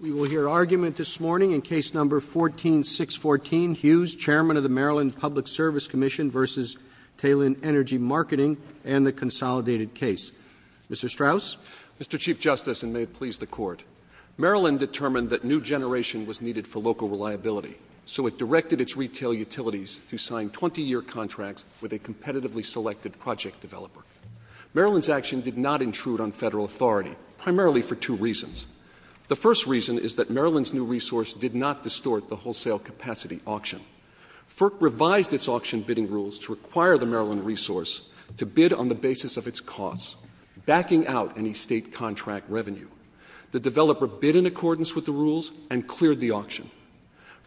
We will hear argument this morning in Case No. 14-614, Hughes, Chairman of the Maryland Public Service Commission v. Talen Energy Marketing and the consolidated case. Mr. Strauss. Mr. Chief Justice, and may it please the Court, Maryland determined that new generation was needed for local reliability, so it directed its retail utilities to sign 20-year contracts with a competitively selected project developer. Maryland's action did not intrude on Federal authority, primarily for two reasons. The first reason is that Maryland's new resource did not distort the wholesale capacity auction. FERC revised its auction bidding rules to require the Maryland resource to bid on the basis of its costs, backing out any State contract revenue. The developer bid in accordance with the rules and cleared the auction.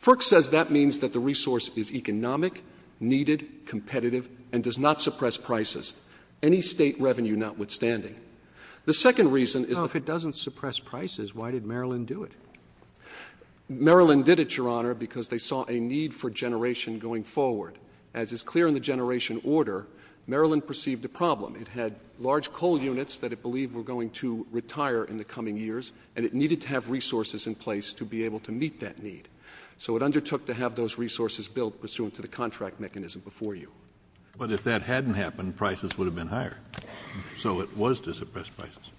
FERC says that means that the resource is economic, needed, competitive, and does not suppress prices, any State revenue notwithstanding. The second reason is that Well, if it doesn't suppress prices, why did Maryland do it? Maryland did it, Your Honor, because they saw a need for generation going forward. As is clear in the generation order, Maryland perceived a problem. It had large coal units that it believed were going to retire in the coming years, and it needed to have resources in place to be able to meet that need. So it undertook to have those resources built pursuant to the contract mechanism before you. But if that hadn't happened, prices would have been higher. So it was to suppress prices.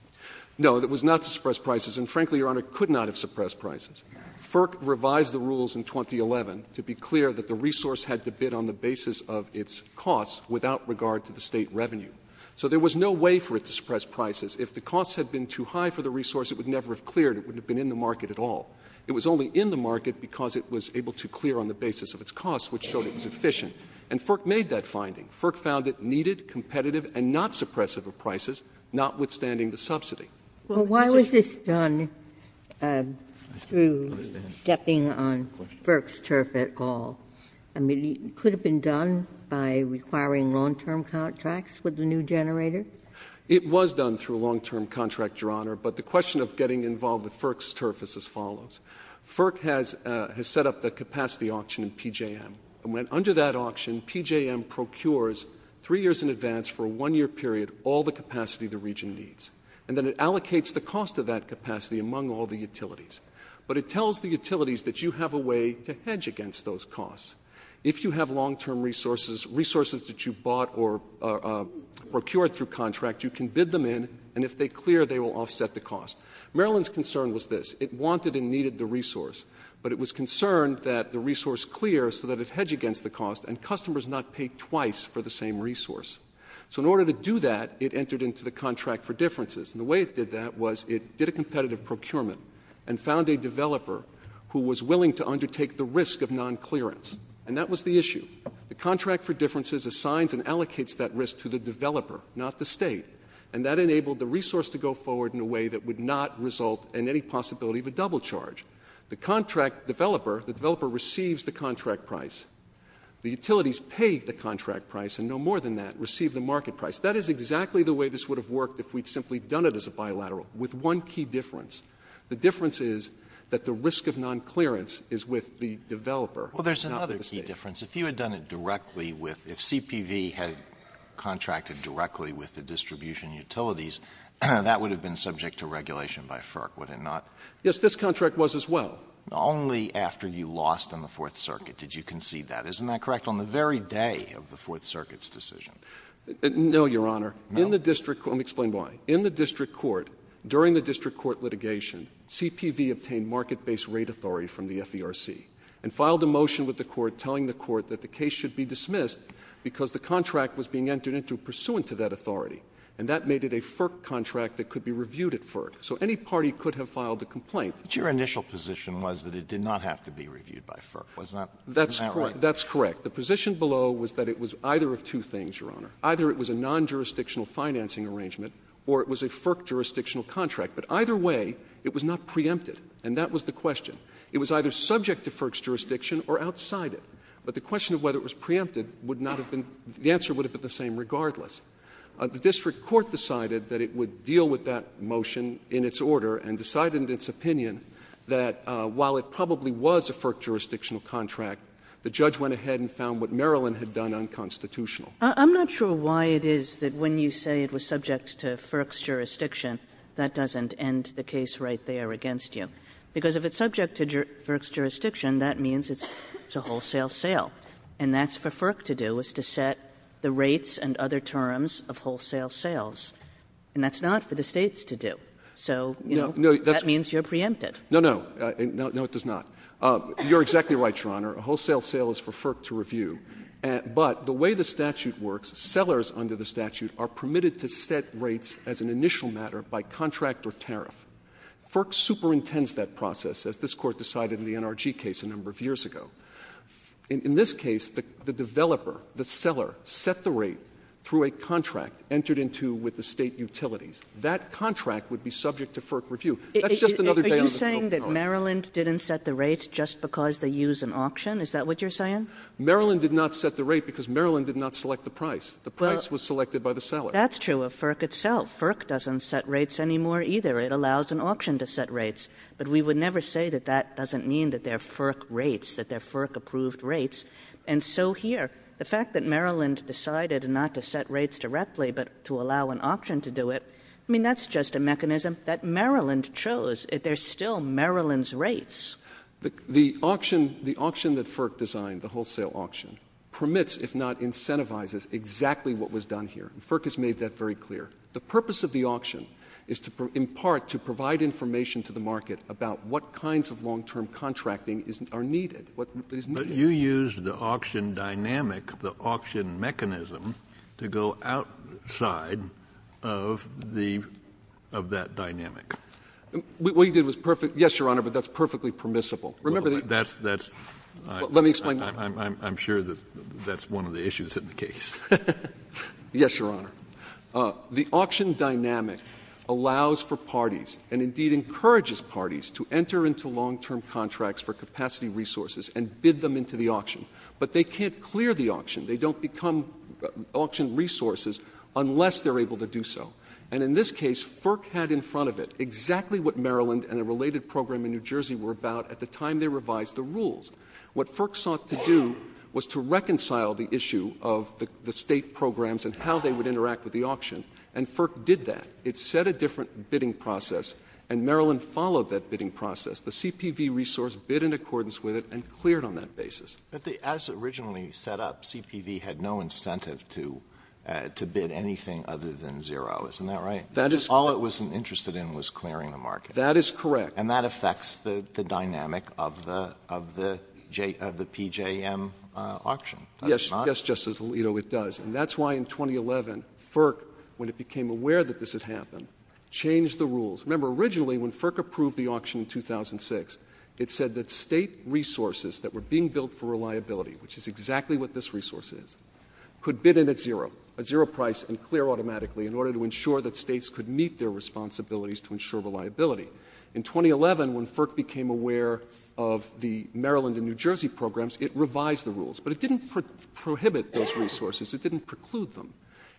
No, it was not to suppress prices. And frankly, Your Honor, it could not have suppressed prices. FERC revised the rules in 2011 to be clear that the resource had to bid on the basis of its costs without regard to the State revenue. So there was no way for it to suppress prices. If the costs had been too high for the resource, it would never have cleared. It wouldn't have been in the market at all. It was only in the market because it was able to clear on the basis of its costs, which showed it was efficient. And FERC made that finding. FERC found it needed, competitive, and not suppressive of prices, notwithstanding the subsidy. Well, why was this done through stepping on FERC's turf at all? I mean, could it have been done by requiring long-term contracts with the new generator? It was done through a long-term contract, Your Honor. But the question of getting involved with FERC's turf is as follows. FERC has set up the capacity auction in PJM. And under that auction, PJM procures three years in advance for a one-year period all the capacity the region needs. And then it allocates the cost of that capacity among all the utilities. But it tells the utilities that you have a way to hedge against those costs. If you have long-term resources, resources that you bought or procured through contract, you can bid them in, and if they clear, they will offset the cost. Maryland's concern was this. It wanted and needed the resource, but it was concerned that the resource clears so that it hedged against the cost and customers not pay twice for the same resource. So in order to do that, it entered into the contract for differences. And the way it did that was it did a competitive procurement and found a developer who was willing to undertake the risk of nonclearance. And that was the issue. The contract for differences assigns and allocates that risk to the developer, not the State. And that enabled the resource to go forward in a way that would not result in any possibility of a double charge. The contract developer, the developer receives the contract price. The utilities pay the contract price, and no more than that, receive the market price. That is exactly the way this would have worked if we had simply done it as a bilateral, with one key difference. The difference is that the risk of nonclearance is with the developer. Alitoson Well, there's another key difference. If you had done it directly with — if CPV had contracted directly with the distribution utilities, that would have been subject to regulation by FERC, would it not? Maryland Yes, this contract was as well. Alitoson Only after you lost on the Fourth Circuit did you concede that. Isn't that correct? On the very day of the Fourth Circuit's decision. Maryland No, Your Honor. Alitoson No. Maryland Let me explain why. In the district court, during the district court litigation, CPV obtained market-based rate authority from the FERC and filed a motion with the court telling the court that the case should be dismissed because the contract was being entered into pursuant to that authority. And that made it a FERC contract that could be reviewed at FERC. So any party could have filed a complaint. Alitoson But your initial position was that it did not have to be reviewed by FERC, wasn't that right? Maryland That's correct. That's correct. The position below was that it was either of two things, Your Honor. Either it was a non-jurisdictional financing arrangement or it was a FERC jurisdictional contract. But either way, it was not preempted, and that was the question. It was either subject to FERC's jurisdiction or outside it. But the question of whether it was preempted would not have been — the answer would have been the same regardless. The district court decided that it would deal with that motion in its order and decided in its opinion that while it probably was a FERC jurisdictional contract, the judge went ahead and found what Maryland had done unconstitutional. Kagan I'm not sure why it is that when you say it was subject to FERC's jurisdiction, that doesn't end the case right there against you. Because if it's subject to FERC's jurisdiction, that means it's a wholesale sale. And that's for FERC to do, is to set the rates and other terms of wholesale sales. And that's not for the States to do. So, you know, that means you're preempted. Alitoson No, no. No, it does not. You're exactly right, Your Honor. A wholesale sale is for FERC to review. But the way the statute works, sellers under the statute are permitted to set rates as an initial matter by contract or tariff. FERC superintends that process, as this Court decided in the NRG case a number of years ago. In this case, the developer, the seller, set the rate through a contract entered into with the State utilities. That contract would be subject to FERC review. That's just another day on the scope of our argument. Kagan But Maryland didn't set the rate just because they use an auction? Is that what you're saying? Alitoson Maryland did not set the rate because Maryland did not select the price. The price was selected by the seller. Kagan Well, that's true of FERC itself. FERC doesn't set rates anymore either. It allows an auction to set rates. But we would never say that that doesn't mean that they're FERC rates, that they're FERC-approved rates. And so here, the fact that Maryland decided not to set rates directly, but to allow an auction to do it, I mean, that's not just a mechanism that Maryland chose. They're still Maryland's rates. Alitoson The auction that FERC designed, the wholesale auction, permits, if not incentivizes, exactly what was done here. FERC has made that very clear. The purpose of the auction is to, in part, to provide information to the market about what kinds of long-term contracting are needed. Kennedy But you used the auction dynamic, the auction mechanism, to go outside of the market of that dynamic. Alitoson What you did was perfect — yes, Your Honor, but that's perfectly permissible. Remember the — Kennedy That's — that's — Alitoson Let me explain. Kennedy I'm sure that that's one of the issues in the case. Alitoson Yes, Your Honor. The auction dynamic allows for parties, and indeed encourages parties, to enter into long-term contracts for capacity resources and bid them into the auction. But they can't clear the auction. They don't become auction resources unless they're able to do so. And in this case, FERC had in front of it exactly what Maryland and a related program in New Jersey were about at the time they revised the rules. What FERC sought to do was to reconcile the issue of the State programs and how they would interact with the auction, and FERC did that. It set a different bidding process, and Maryland followed that bidding process. The CPV resource bid in accordance with it and cleared on that basis. Alitoson But as originally set up, CPV had no incentive to — to bid anything other than zero. Isn't that right? Kennedy That is correct. Alitoson All it was interested in was clearing the market. Kennedy That is correct. Alitoson And that affects the — the dynamic of the — of the — of the PJM auction, does it not? Kennedy Yes. Yes, Justice Alito, it does. And that's why in 2011, FERC, when it became aware that this had happened, changed the rules. Remember, originally when FERC approved the auction in 2006, it said that State resources that were being built for reliability, which is exactly what this resource is, could bid in at zero, at zero price and clear automatically, in order to ensure that States could meet their responsibilities to ensure reliability. In 2011, when FERC became aware of the Maryland and New Jersey programs, it revised the rules. But it didn't prohibit those resources. It didn't preclude them.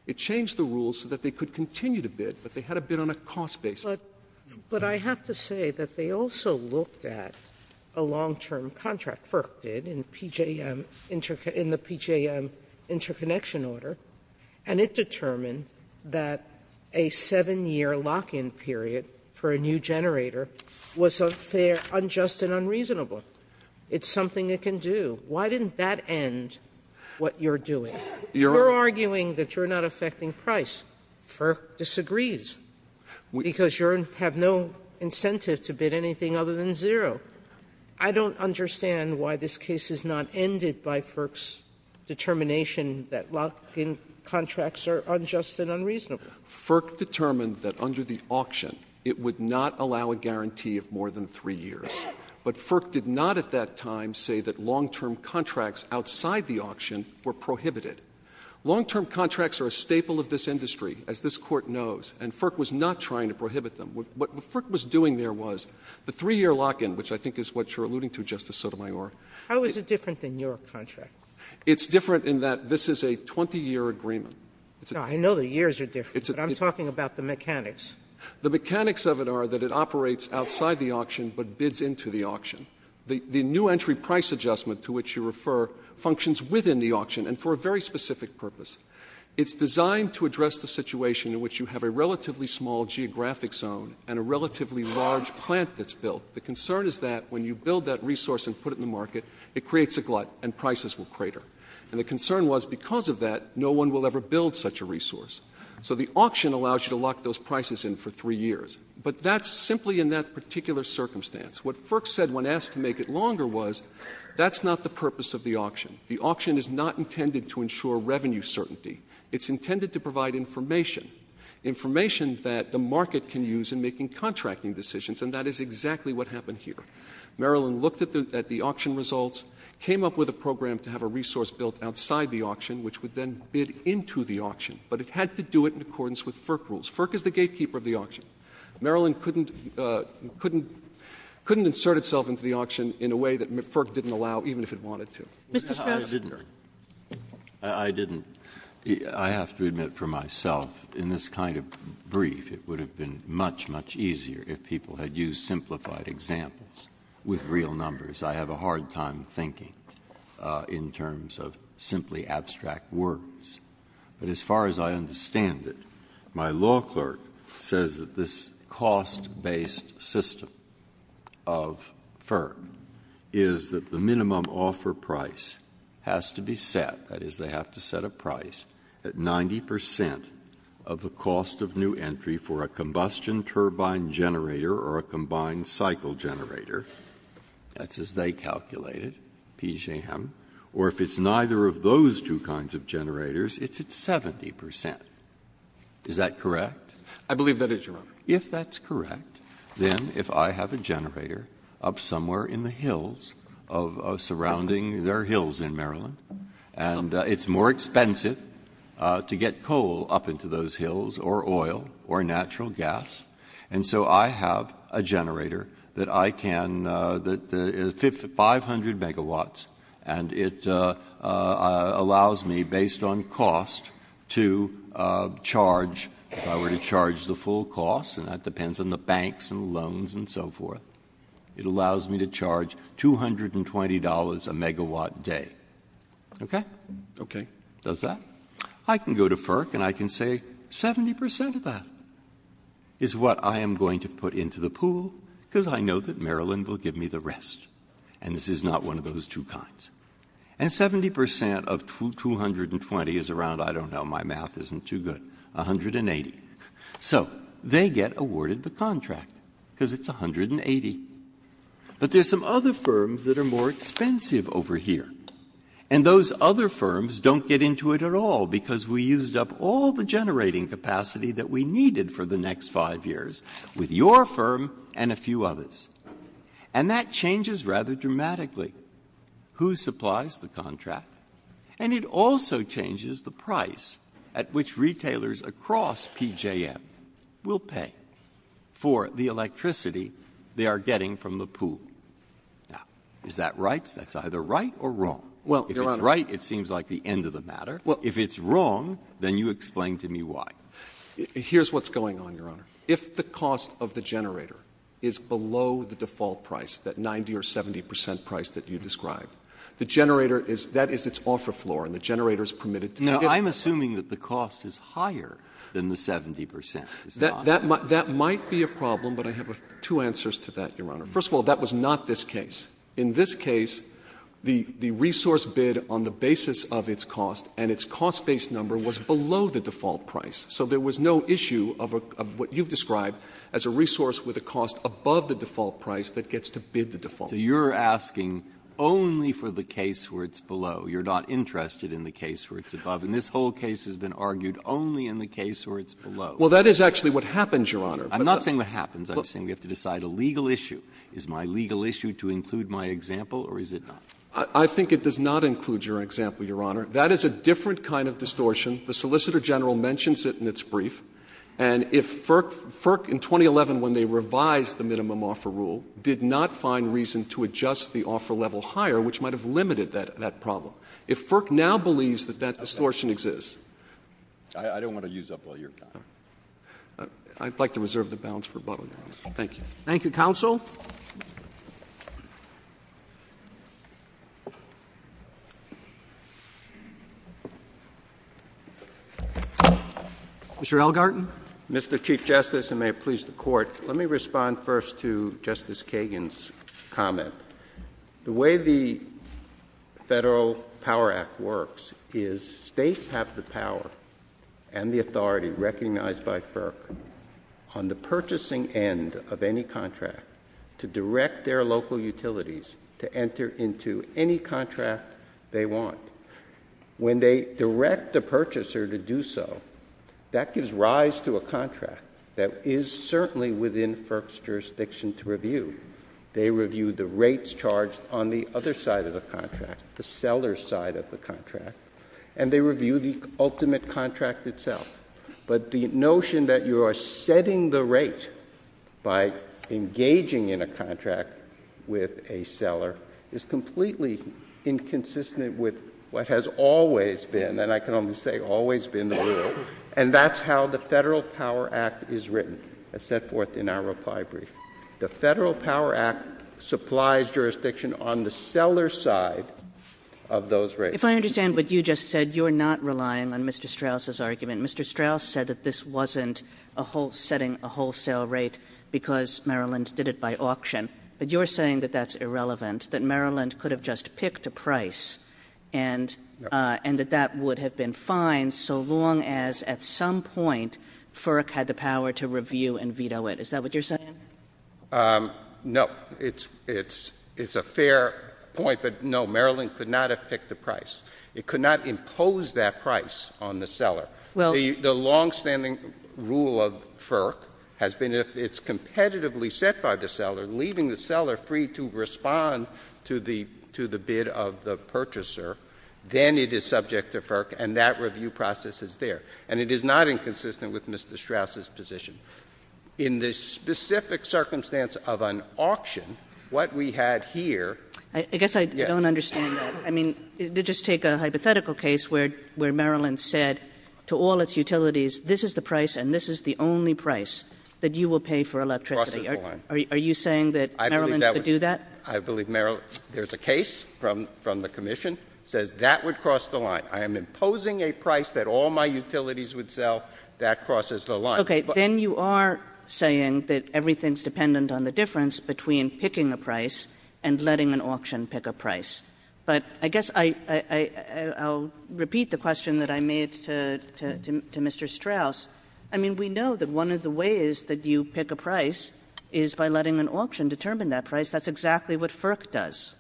It changed the rules so that they could continue to bid, but they had to bid on a cost basis. Sotomayor But — but I have to say that they also looked at a long-term contract FERC did in PJM — in the PJM interconnection order, and it determined that a 7-year lock-in period for a new generator was unfair, unjust, and unreasonable. It's something it can do. Why didn't that end what you're doing? Kennedy Your Honor — Sotomayor — have no incentive to bid anything other than zero. I don't understand why this case is not ended by FERC's determination that lock-in contracts are unjust and unreasonable. Kennedy FERC determined that under the auction, it would not allow a guarantee of more than 3 years. But FERC did not at that time say that long-term contracts outside the auction were prohibited. Long-term contracts are a staple of this industry, as this Court knows, and FERC was not trying to prohibit them. What FERC was doing there was the 3-year lock-in, which I think is what you're alluding to, Justice Sotomayor — Sotomayor How is it different than your contract? Kennedy It's different in that this is a 20-year agreement. Sotomayor No, I know the years are different, but I'm talking about the mechanics. Kennedy The mechanics of it are that it operates outside the auction but bids into the auction. The new entry price adjustment to which you refer functions within the auction and for a very specific purpose. It's designed to address the situation in which you have a relatively small geographic zone and a relatively large plant that's built. The concern is that when you build that resource and put it in the market, it creates a glut and prices will crater. And the concern was because of that, no one will ever build such a resource. So the auction allows you to lock those prices in for 3 years. But that's simply in that particular circumstance. What FERC said when asked to make it longer was, that's not the purpose of the auction. The auction is not intended to ensure revenue certainty. It's intended to provide information, information that the market can use in making contracting decisions. And that is exactly what happened here. Maryland looked at the auction results, came up with a program to have a resource built outside the auction, which would then bid into the auction. But it had to do it in accordance with FERC rules. FERC is the gatekeeper of the auction. Maryland couldn't insert itself into the auction in a way that FERC didn't allow, even if it wanted to. Sotomayor Mr. Strauss I didn't. I didn't. I have to admit for myself, in this kind of brief, it would have been much, much easier if people had used simplified examples with real numbers. I have a hard time thinking in terms of simply abstract words. But as far as I understand it, my law clerk says that this cost-based system of FERC is that the minimum offer price has to be set, that is, they have to set a price at 90 percent of the cost of new entry for a combustion turbine generator or a combined cycle generator. That's as they calculated, PJM. Or if it's neither of those two kinds of generators, it's at 70 percent. Is that correct? I believe that is, Your Honor. Breyer If that's correct, then if I have a generator up somewhere in the hills of surrounding their hills in Maryland, and it's more expensive to get coal up into those hills or oil or natural gas, and so I have a generator that I can, 500 megawatts, and it allows me, based on cost, to charge, if I were to charge the full cost, I would charge the full cost, and that depends on the banks and loans and so forth, it allows me to charge $220 a megawatt day. Okay? Okay. Does that? I can go to FERC and I can say 70 percent of that is what I am going to put into the pool, because I know that Maryland will give me the rest. And this is not one of those two kinds. And 70 percent of 220 is around, I don't know, my math isn't too good, 180. So they get awarded the contract, because it's 180. But there are some other firms that are more expensive over here, and those other firms don't get into it at all, because we used up all the generating capacity that we needed for the next 5 years with your firm and a few others. And that changes rather dramatically who supplies the contract, and it also changes the price at which retailers across PJM will pay for the electricity they are getting from the pool. Now, is that right? That's either right or wrong. Well, Your Honor — If it's right, it seems like the end of the matter. Well — If it's wrong, then you explain to me why. Here's what's going on, Your Honor. If the cost of the generator is below the default price, that 90 or 70 percent price that you described, the generator is — that is its offer floor, and the generator is permitted to — Now, I'm assuming that the cost is higher than the 70 percent. That might be a problem, but I have two answers to that, Your Honor. First of all, that was not this case. In this case, the resource bid on the basis of its cost and its cost-based number was below the default price, so there was no issue of what you've described as a resource with a cost above the default price that gets to bid the default. So you're asking only for the case where it's below. You're not interested in the case where it's above. And this whole case has been argued only in the case where it's below. Well, that is actually what happens, Your Honor. I'm not saying what happens. I'm saying we have to decide a legal issue. Is my legal issue to include my example, or is it not? I think it does not include your example, Your Honor. That is a different kind of distortion. The Solicitor General mentions it in its brief. And if FERC in 2011, when they revised the minimum offer rule, did not find reason to adjust the offer level higher, which might have limited that problem. If FERC now believes that that distortion exists. I don't want to use up all your time. I'd like to reserve the balance for rebuttal, Your Honor. Thank you. Thank you, counsel. Mr. Elgarten. Mr. Chief Justice, and may it please the Court, let me respond first to Justice The way the Federal Power Act works is states have the power and the authority recognized by FERC on the purchasing end of any contract to direct their local utilities to enter into any contract they want. When they direct a purchaser to do so, that gives rise to a contract that is certainly within FERC's jurisdiction to review. They review the rates charged on the other side of the contract, the seller's side of the contract, and they review the ultimate contract itself. But the notion that you are setting the rate by engaging in a contract with a seller is completely inconsistent with what has always been, and I can only say always been, the rule. And that's how the Federal Power Act is written, as set forth in our reply brief. The Federal Power Act supplies jurisdiction on the seller's side of those rates. If I understand what you just said, you're not relying on Mr. Strauss's argument. Mr. Strauss said that this wasn't a whole — setting a wholesale rate because Maryland did it by auction. But you're saying that that's irrelevant, that Maryland could have just picked a price and that that would have been fine so long as at some point FERC had the power to review and veto it. Is that what you're saying? No. It's a fair point, but no, Maryland could not have picked a price. It could not impose that price on the seller. The longstanding rule of FERC has been if it's competitively set by the seller, leaving the seller free to respond to the bid of the purchaser, then it is subject to FERC, and that review process is there. And it is not inconsistent with Mr. Strauss's position. In the specific circumstance of an auction, what we had here — I guess I don't understand that. I mean, just take a hypothetical case where Maryland said to all its utilities, this is the price and this is the only price that you will pay for electricity. It crosses the line. Are you saying that Maryland could do that? I believe Maryland — there's a case from the commission that says that would cross the line. I am imposing a price that all my utilities would sell. That crosses the line. Kagan, you are saying that everything's dependent on the difference between picking a price and letting an auction pick a price. But I guess I'll repeat the question that I made to Mr. Strauss. I mean, we know that one of the ways that you pick a price is by letting an auction determine that price. That's exactly what FERC does.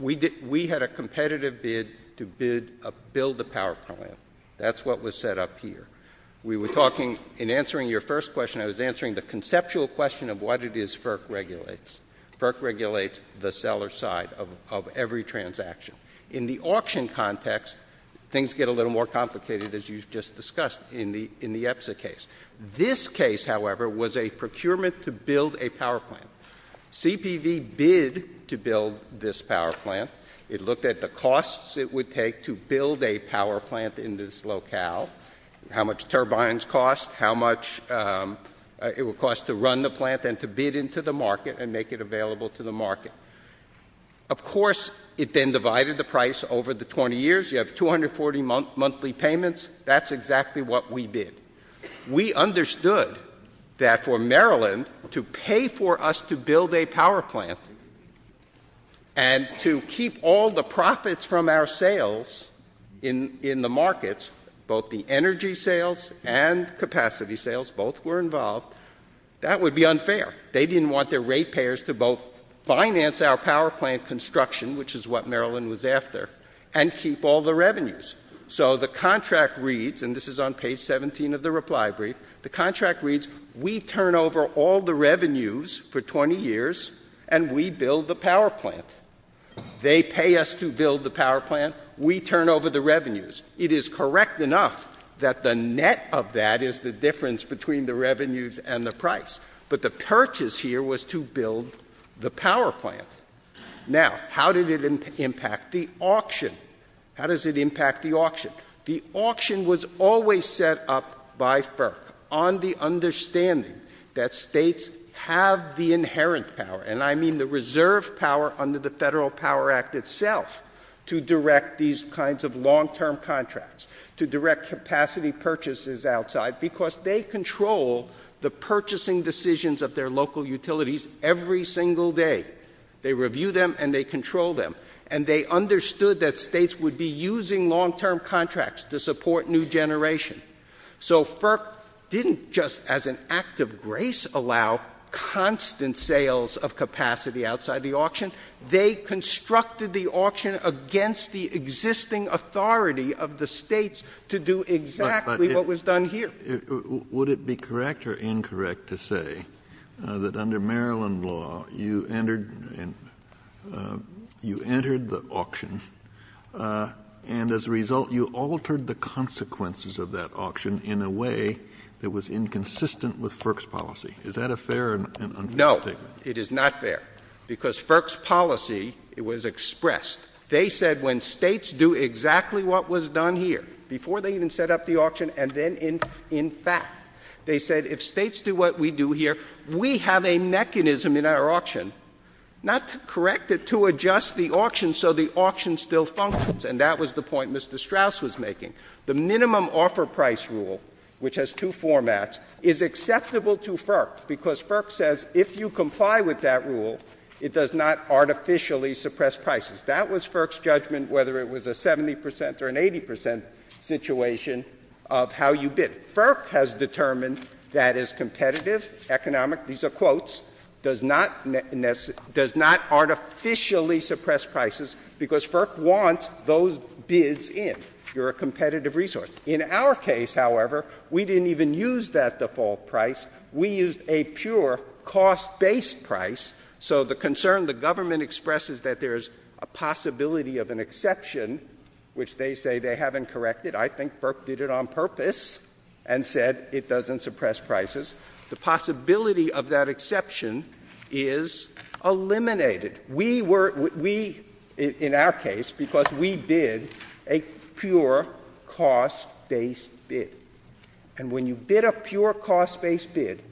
We did — we had a competitive bid to build a power plant. That's what was set up here. We were talking — in answering your first question, I was answering the conceptual question of what it is FERC regulates. FERC regulates the seller side of every transaction. In the auction context, things get a little more complicated, as you just discussed in the EPSA case. This case, however, was a procurement to build a power plant. CPV bid to build this power plant. It looked at the costs it would take to build a power plant in this locale. How much turbines cost, how much it would cost to run the plant and to bid into the market and make it available to the market. Of course, it then divided the price over the 20 years. You have 240 monthly payments. That's exactly what we bid. We understood that for Maryland to pay for us to build a power plant and to keep all the profits from our sales in the markets — both the energy sales and capacity sales, both were involved — that would be unfair. They didn't want their rate payers to both finance our power plant construction, which is what Maryland was after, and keep all the revenues. So the contract reads — and this is on page 17 of the reply brief — the contract reads, we turn over all the revenues for 20 years and we build the power plant. They pay us to build the power plant. We turn over the revenues. It is correct enough that the net of that is the difference between the revenues and the price. But the purchase here was to build the power plant. Now, how did it impact the auction? How does it impact the auction? The auction was always set up by FERC on the understanding that States have the inherent power — and I mean the reserve power under the Federal Power Act itself — to direct these kinds of long-term contracts, to direct capacity purchases outside, because they control the purchasing decisions of their local utilities every single day. They review them and they control them. And they understood that States would be using long-term contracts to support new generation. So FERC didn't just as an act of grace allow constant sales of capacity outside the auction. They constructed the auction against the existing authority of the States to do exactly what was done here. Would it be correct or incorrect to say that under Maryland law, you entered — you entered the auction and as a result you altered the consequences of that auction in a way that was inconsistent with FERC's policy? Is that a fair and unfair statement? No. It is not fair. Because FERC's policy, it was expressed. They said when States do exactly what was done here, before they even set up the auction and then in fact, they said if States do what we do here, we have a mechanism in our auction not to correct it, to adjust the auction so the auction still functions. And that was the point Mr. Strauss was making. The minimum offer price rule, which has two formats, is acceptable to FERC, because FERC says if you comply with that rule, it does not artificially suppress prices. That was FERC's judgment, whether it was a 70 percent or an 80 percent situation of how you bid. FERC has determined that is competitive, economic — these are quotes — does not — does not artificially suppress prices because FERC wants those bids in. You're a competitive resource. In our case, however, we didn't even use that default price. We used a pure cost-based price. So the concern the government expresses that there's a possibility of an exception, which they say they haven't corrected. I think FERC did it on purpose and said it doesn't suppress prices. The possibility of that exception is eliminated. We were — we — in our case, because we bid a pure cost-based bid. And when you bid a pure cost-based bid,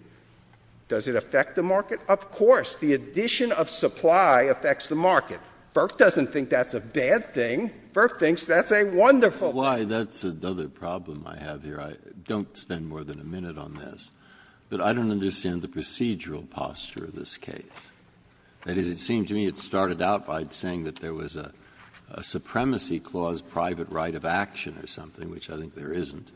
does it affect the market? Of course. The addition of supply affects the market. FERC doesn't think that's a bad thing. FERC thinks that's a wonderful thing. Breyer. That's another problem I have here. I don't spend more than a minute on this. But I don't understand the procedural posture of this case. That is, it seemed to me it started out by saying that there was a supremacy clause, private right of action or something, which I think there isn't,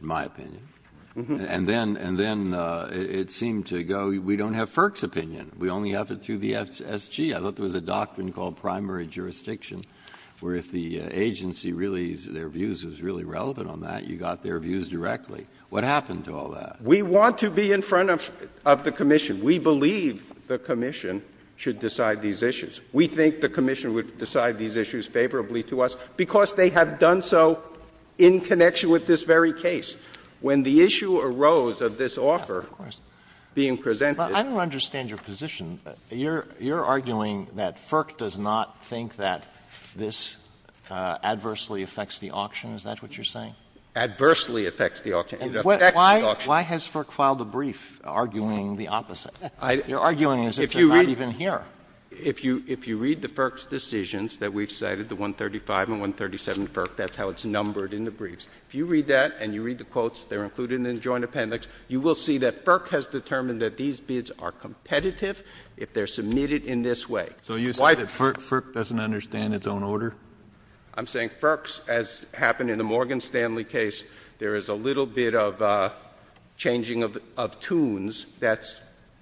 in my opinion. And then — and then it seemed to go, we don't have FERC's opinion. We only have it through the FSG. I thought there was a doctrine called primary jurisdiction, where if the agency really — their views was really relevant on that, you got their views directly. What happened to all that? We want to be in front of the commission. We believe the commission should decide these issues. We think the commission would decide these issues favorably to us because they have done so in connection with this very case. When the issue arose of this offer being presented — But I don't understand your position. You're arguing that FERC does not think that this adversely affects the auction. Is that what you're saying? Adversely affects the auction. It affects the auction. Why — why has FERC filed a brief arguing the opposite? You're arguing as if it's not even here. If you read — if you read the FERC's decisions that we've cited, the 135 and 137 FERC, that's how it's numbered in the briefs. If you read that and you read the quotes, they're included in the joint appendix, you will see that FERC has determined that these bids are competitive if they're submitted in this way. So you say that FERC doesn't understand its own order? I'm saying FERC's, as happened in the Morgan Stanley case, there is a little bit of changing of tunes that's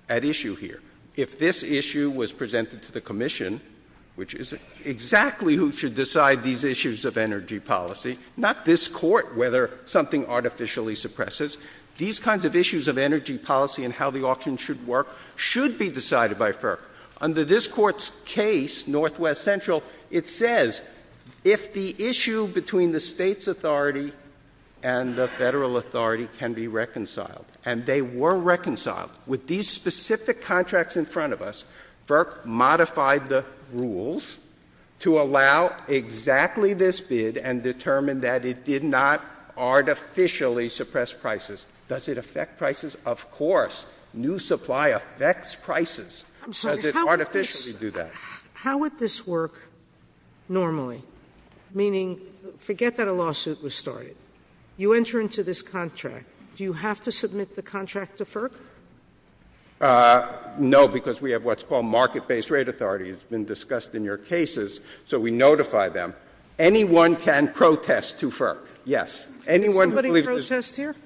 at issue here. If this issue was presented to the commission, which is exactly who should decide these issues of energy policy — not this Court, whether something artificially suppresses — these kinds of issues of energy policy and how the auction should work should be decided by FERC. Under this Court's case, Northwest Central, it says if the issue between the Federal authority can be reconciled, and they were reconciled, with these specific contracts in front of us, FERC modified the rules to allow exactly this bid and determined that it did not artificially suppress prices. Does it affect prices? Of course. New supply affects prices. Does it artificially do that? SOTOMAYOR How would this — how would this work normally? Meaning, forget that a lawsuit was started. You enter into this contract. Do you have to submit the contract to FERC? No, because we have what's called market-based rate authority. It's been discussed in your cases, so we notify them. Anyone can protest to FERC. Anyone who believes this — SOTOMAYOR Did somebody protest here?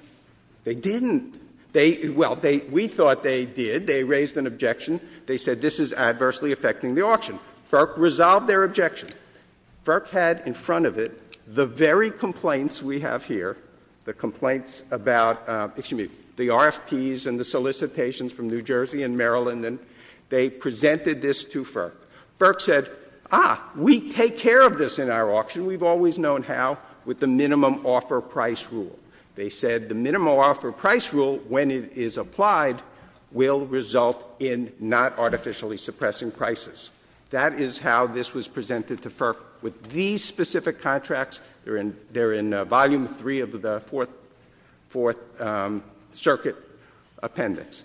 They didn't. They — well, they — we thought they did. They raised an objection. They said this is adversely affecting the auction. FERC resolved their objection. FERC had in front of it the very complaints we have here, the complaints about — excuse me — the RFPs and the solicitations from New Jersey and Maryland, and they presented this to FERC. FERC said, ah, we take care of this in our auction. We've always known how, with the minimum offer price rule. They said the minimum offer price rule, when it is applied, will result in not artificially suppressing prices. That is how this was presented to FERC, with these specific contracts. They're in — they're in volume three of the Fourth — Fourth Circuit appendix.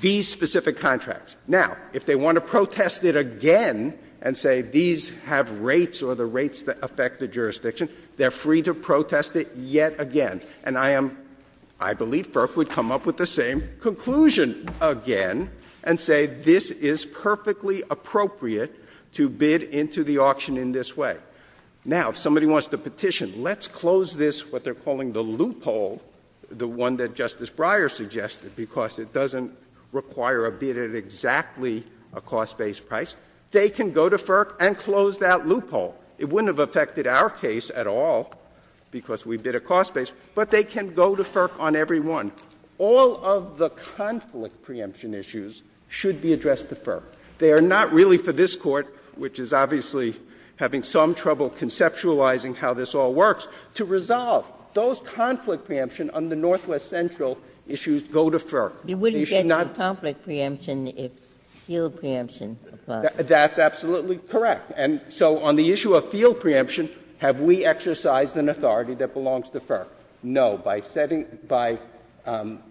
These specific contracts. Now, if they want to protest it again and say these have rates or the rates that affect the jurisdiction, they're free to protest it yet again. And I am — I believe FERC would come up with the same conclusion again and say this is perfectly appropriate to bid into the auction in this way. Now, if somebody wants to petition, let's close this, what they're calling the loophole, the one that Justice Breyer suggested, because it doesn't require a bid at exactly a cost-based price. They can go to FERC and close that loophole. It wouldn't have affected our case at all because we bid a cost-based, but they can go to FERC on every one. All of the conflict preemption issues should be addressed to FERC. They are not really for this Court, which is obviously having some trouble conceptualizing how this all works, to resolve. Those conflict preemption on the Northwest Central issues go to FERC. They should not — You wouldn't get conflict preemption if field preemption applies. That's absolutely correct. And so on the issue of field preemption, have we exercised an authority that belongs to FERC? No. By setting — by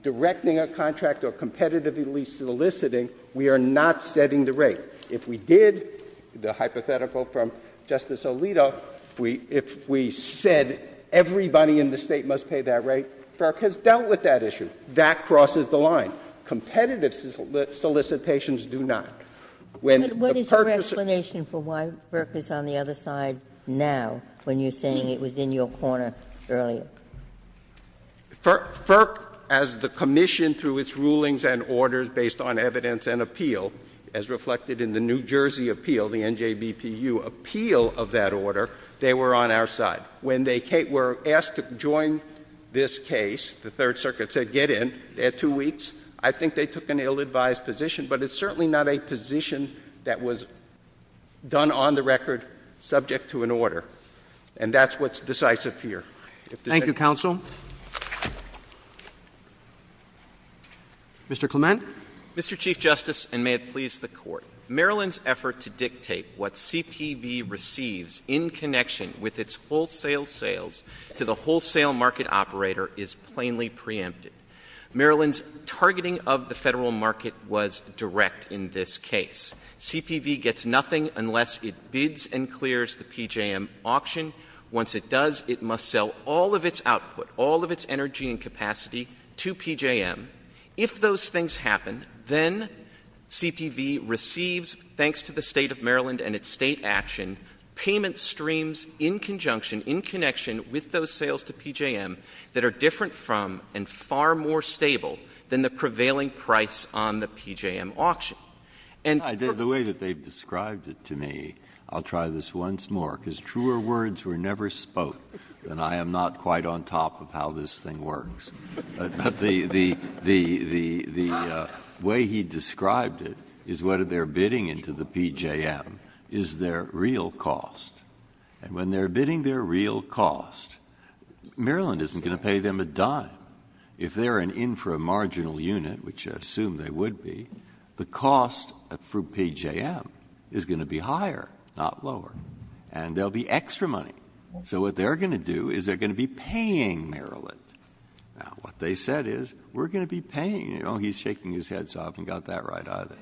directing a contract or competitively soliciting, we are not setting the rate. If we did, the hypothetical from Justice Alito, if we said everybody in the State must pay that rate, FERC has dealt with that issue. That crosses the line. Competitive solicitations do not. When the purchaser — But what is your explanation for why FERC is on the other side now, when you're saying it was in your corner earlier? FERC, as the Commission, through its rulings and orders, based on evidence and appeal, as reflected in the New Jersey appeal, the NJBPU appeal of that order, they were on our side. When they were asked to join this case, the Third Circuit said get in. They had two weeks. I think they took an ill-advised position. But it's certainly not a position that was done on the record subject to an order. And that's what's decisive here. Thank you, counsel. Mr. Clement. Mr. Chief Justice, and may it please the Court, Maryland's effort to dictate what CPV receives in connection with its wholesale sales to the wholesale market operator is plainly preempted. Maryland's targeting of the Federal market was direct in this case. CPV gets nothing unless it bids and clears the PJM auction. Once it does, it must sell all of its output, all of its energy and capacity to PJM. If those things happen, then CPV receives, thanks to the State of Maryland and its State action, payment streams in conjunction, in connection with those sales to PJM that are different from and far more stable than the prevailing price on the PJM auction. And for the The way that they've described it to me, I'll try this once more. Because truer words were never spoke, and I am not quite on top of how this thing works. But the way he described it is what they're bidding into the PJM is their real cost. And when they're bidding their real cost, Maryland isn't going to pay them a dime. If they're an inframarginal unit, which I assume they would be, the cost for PJM is going to be higher, not lower. And there will be extra money. So what they're going to do is they're going to be paying Maryland. Now, what they said is, we're going to be paying. Oh, he's shaking his head, so I haven't got that right either.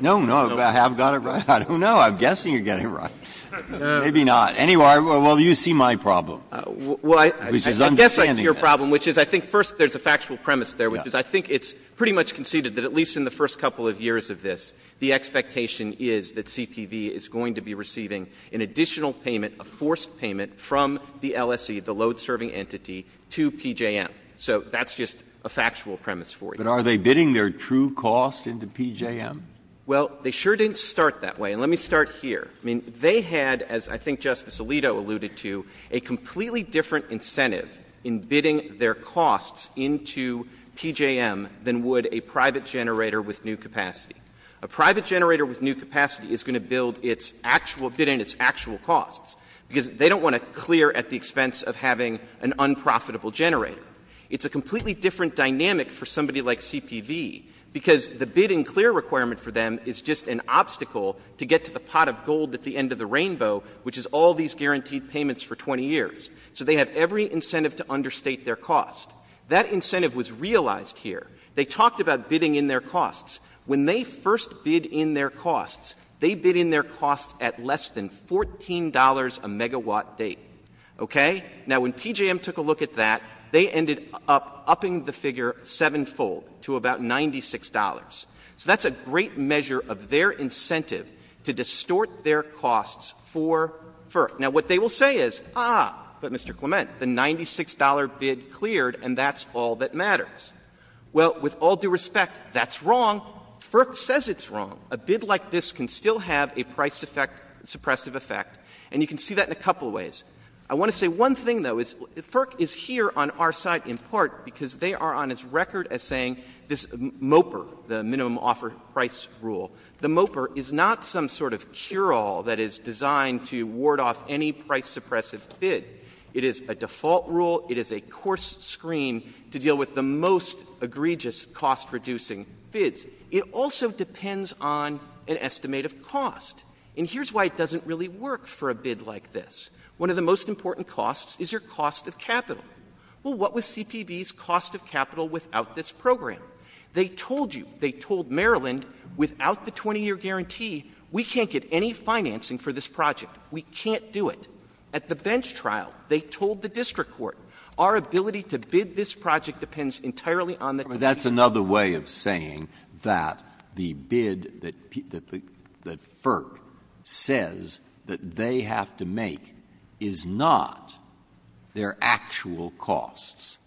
No, no, I have got it right. I don't know. I'm guessing you're getting it right. Maybe not. Anyway, well, you see my problem. I'm just understanding that. I guess I see your problem, which is I think first there's a factual premise there, which is I think it's pretty much conceded that at least in the first couple of years of this, the expectation is that CPV is going to be receiving an additional payment, a forced payment, from the LSE, the load-serving entity, to PJM. So that's just a factual premise for you. But are they bidding their true cost into PJM? Well, they sure didn't start that way. And let me start here. I mean, they had, as I think Justice Alito alluded to, a completely different incentive in bidding their costs into PJM than would a private generator with new capacity. A private generator with new capacity is going to build its actual — bid in its actual costs, because they don't want to clear at the expense of having an unprofitable generator. It's a completely different dynamic for somebody like CPV, because the bid and clear requirement for them is just an obstacle to get to the pot of gold at the end of the rainbow, which is all these guaranteed payments for 20 years. So they have every incentive to understate their cost. That incentive was realized here. They talked about bidding in their costs. When they first bid in their costs, they bid in their costs at less than $14 a megawatt date. Okay? Now, when PJM took a look at that, they ended up upping the figure sevenfold to about $96. So that's a great measure of their incentive to distort their costs for — for — now, what they will say is, ah, but, Mr. Clement, the $96 bid cleared, and that's all that matters. Well, with all due respect, that's wrong. FERC says it's wrong. A bid like this can still have a price effect — suppressive effect, and you can see that in a couple of ways. I want to say one thing, though, is FERC is here on our side in part because they are on its record as saying this MOPR, the minimum offer price rule, the MOPR is not some sort of cure-all that is designed to ward off any price-suppressive bid. It is a default rule. It is a coarse screen to deal with the most egregious cost-reducing bids. It also depends on an estimate of cost. And here's why it doesn't really work for a bid like this. One of the most important costs is your cost of capital. Well, what was CPB's cost of capital without this program? They told you — they told Maryland, without the 20-year guarantee, we can't get any financing for this project. We can't do it. At the bench trial, they told the district court, our ability to bid this project depends entirely on the — Breyer. That's another way of saying that the bid that FERC says that they have to make is not their actual costs,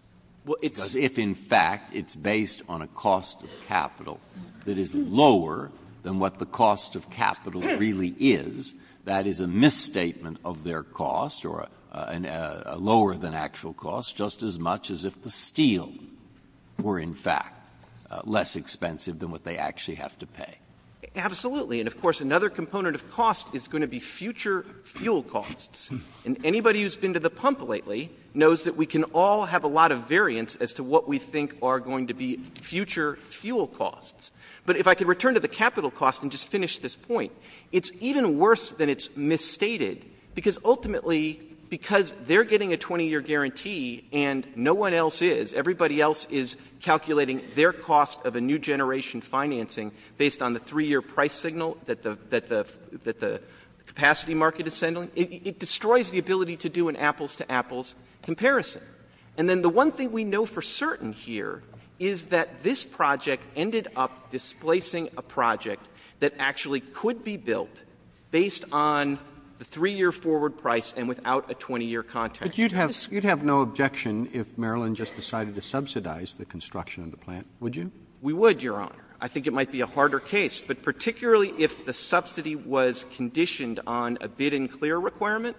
because if, in fact, it's based on a cost of capital that is lower than what the cost of capital really is, that is a misstatement of their cost or a lower-than-actual cost, just as much as if the steel were, in fact, less expensive than what they actually have to pay. Absolutely. And, of course, another component of cost is going to be future fuel costs. And anybody who's been to the pump lately knows that we can all have a lot of variance as to what we think are going to be future fuel costs. But if I could return to the capital cost and just finish this point, it's even worse than it's misstated, because ultimately, because they're getting a 20-year guarantee and no one else is, everybody else is calculating their cost of a new generation financing based on the 3-year price signal that the — that the — that the capacity market is sending, it destroys the ability to do an apples-to-apples comparison. And then the one thing we know for certain here is that this project ended up displacing a project that actually could be built based on the 3-year forward price and without a 20-year contract. But you'd have — you'd have no objection if Maryland just decided to subsidize the construction of the plant, would you? We would, Your Honor. I think it might be a harder case. But particularly if the subsidy was conditioned on a bid-and-clear requirement,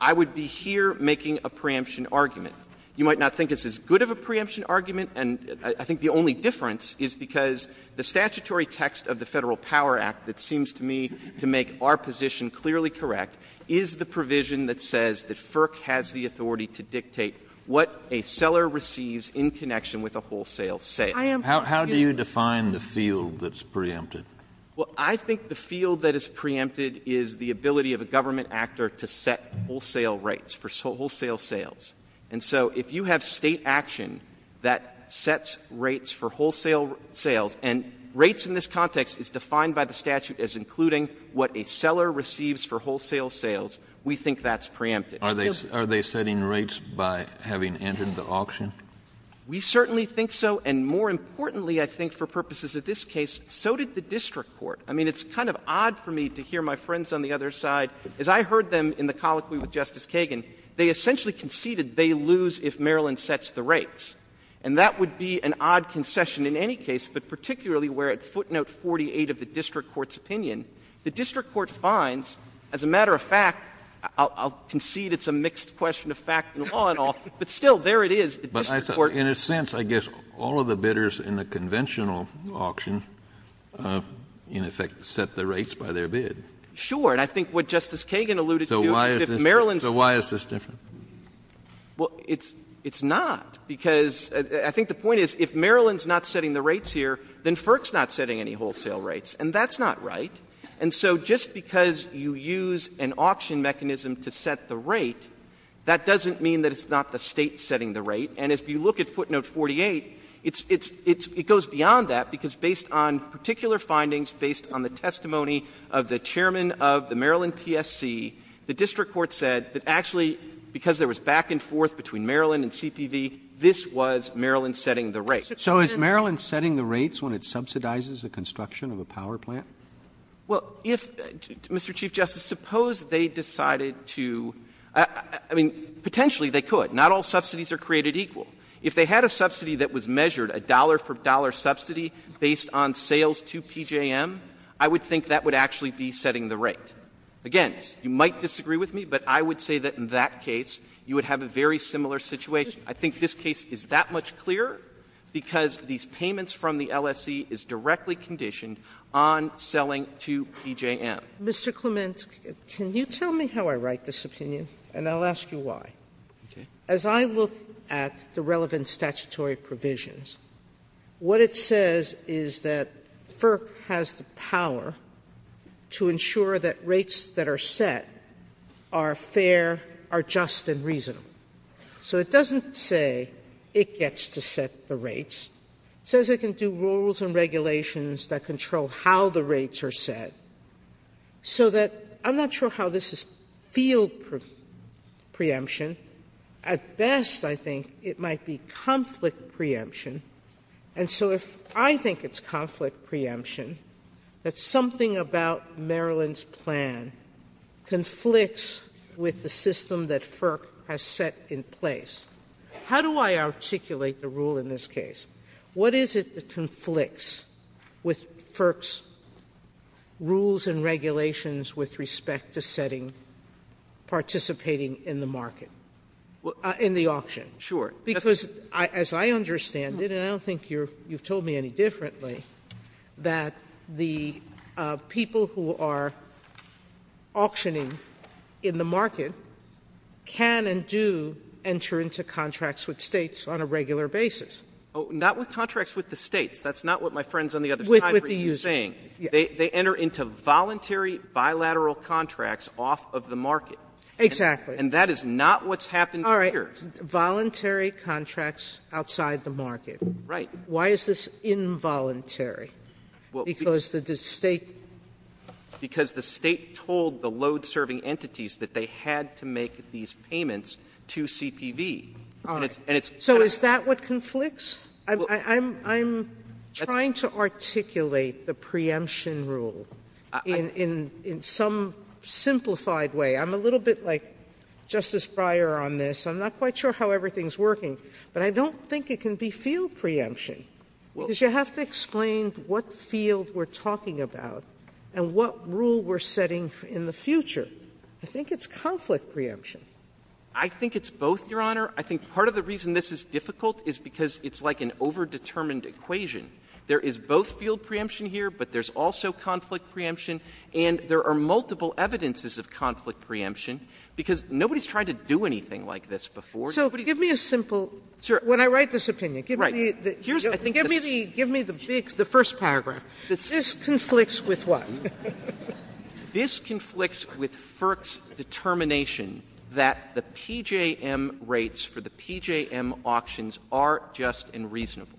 I would be here making a preemption argument. You might not think it's as good of a preemption argument, and I think the only difference is because the statutory text of the Federal Power Act that seems to me to make our position clearly correct is the provision that says that FERC has the authority to dictate what a seller receives in connection with a wholesale sale. I am — How do you define the field that's preempted? Well, I think the field that is preempted is the ability of a government actor to set wholesale rates for wholesale sales. And so if you have State action that sets rates for wholesale sales, and rates in this context is defined by the statute as including what a seller receives for wholesale sales, we think that's preempted. Are they — are they setting rates by having entered the auction? We certainly think so. And more importantly, I think for purposes of this case, so did the district court. I mean, it's kind of odd for me to hear my friends on the other side — as I heard them in the colloquy with Justice Kagan, they essentially conceded they lose if Maryland sets the rates. And that would be an odd concession in any case, but particularly where at footnote 48 of the district court's opinion, the district court finds, as a matter of fact — I'll concede it's a mixed question of fact and law and all — but still, there it is, the district court — But in a sense, I guess all of the bidders in the conventional auction, in effect, set the rates by their bid. Sure. And I think what Justice Kagan alluded to is if Maryland's — So why is this different? Well, it's — it's not, because I think the point is if Maryland's not setting the rates here, then FERC's not setting any wholesale rates. And that's not right. And so just because you use an auction mechanism to set the rate, that doesn't mean that it's not the State setting the rate. And if you look at footnote 48, it's — it's — it goes beyond that, because based on particular findings, based on the testimony of the chairman of the Maryland PSC, the district court said that actually, because there was back and forth between Maryland and CPV, this was Maryland setting the rates. So is Maryland setting the rates when it subsidizes the construction of a power plant? Well, if — Mr. Chief Justice, suppose they decided to — I mean, potentially they could. Not all subsidies are created equal. If they had a subsidy that was measured, a dollar-for-dollar subsidy based on sales to PJM, I would think that would actually be setting the rate. Again, you might disagree with me, but I would say that in that case, you would have a very similar situation. I think this case is that much clearer because these payments from the LSC is directly conditioned on selling to PJM. Mr. Clement, can you tell me how I write this opinion, and I'll ask you why. Okay. As I look at the relevant statutory provisions, what it says is that FERC has the power to ensure that rates that are set are fair, are just, and reasonable. So it doesn't say it gets to set the rates. It says it can do rules and regulations that control how the rates are set, so that I'm not sure how this is field preemption. At best, I think it might be conflict preemption. And so if I think it's conflict preemption, that something about Maryland's plan conflicts with the system that FERC has set in place, how do I articulate the rule in this case? What is it that conflicts with FERC's rules and regulations with respect to setting — participating in the market? In the auction? Sure. Because as I understand it, and I don't think you've told me any differently, that the people who are auctioning in the market can and do enter into contracts with States on a regular basis. Not with contracts with the States. That's not what my friend on the other side is saying. They enter into voluntary bilateral contracts off of the market. Exactly. And that is not what's happened here. All right. Voluntary contracts outside the market. Right. Why is this involuntary? Because the State told the load-serving entities that they had to make these payments to CPV. And it's kind of the same thing. I'm trying to articulate the preemption rule in some simplified way. I'm a little bit like Justice Breyer on this. I'm not quite sure how everything is working. But I don't think it can be field preemption, because you have to explain what field we're talking about and what rule we're setting in the future. I think it's conflict preemption. I think it's both, Your Honor. I think part of the reason this is difficult is because it's like an overdetermined equation. There is both field preemption here, but there's also conflict preemption. And there are multiple evidences of conflict preemption, because nobody's tried to do anything like this before. So give me a simple – when I write this opinion, give me the first paragraph. This conflicts with what? This conflicts with FERC's determination that the PJM rates for the PJM auctions are just and reasonable.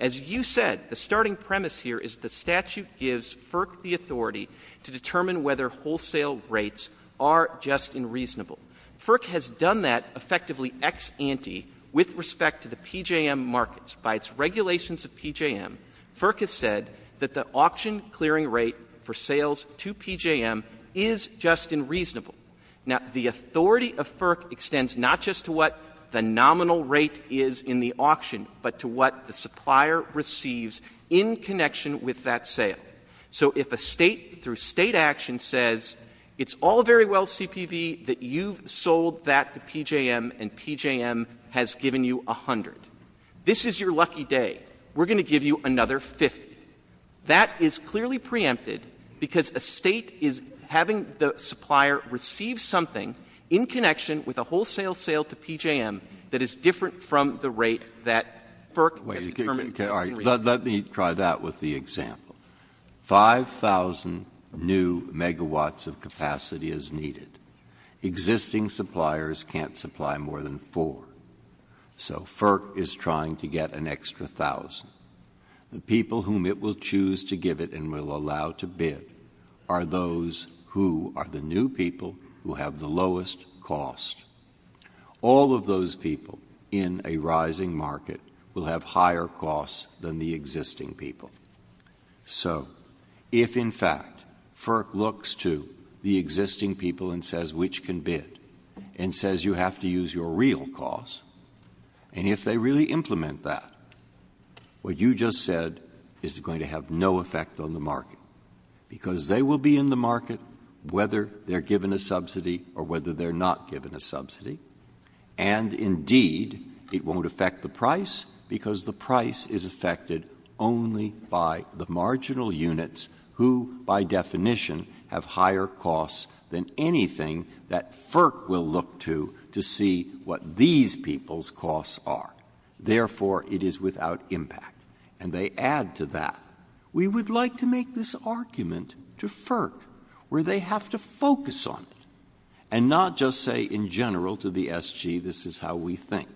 As you said, the starting premise here is the statute gives FERC the authority to determine whether wholesale rates are just and reasonable. FERC has done that effectively ex ante with respect to the PJM markets. By its regulations of PJM, FERC has said that the auction clearing rate for sales to PJM is just and reasonable. Now, the authority of FERC extends not just to what the nominal rate is in the auction, but to what the supplier receives in connection with that sale. So if a State through State action says, it's all very well, CPV, that you've sold that to PJM and PJM has given you 100. This is your lucky day. We're going to give you another 50. That is clearly preempted because a State is having the supplier receive something in connection with a wholesale sale to PJM that is different from the rate that FERC has determined is reasonable. Breyer. Let me try that with the example. 5,000 new megawatts of capacity is needed. Existing suppliers can't supply more than 4. So FERC is trying to get an extra 1,000. The people whom it will choose to give it and will allow to bid are those who are the new people who have the lowest cost. All of those people in a rising market will have higher costs than the existing people. So if, in fact, FERC looks to the existing people and says, which can bid, and says you have to use your real cost, and if they really implement that, what you just said is going to have no effect on the market, because they will be in the market whether they're given a subsidy or whether they're not given a subsidy. And, indeed, it won't affect the price because the price is affected only by the marginal to see what these people's costs are. Therefore, it is without impact. And they add to that, we would like to make this argument to FERC, where they have to focus on it and not just say in general to the SG this is how we think,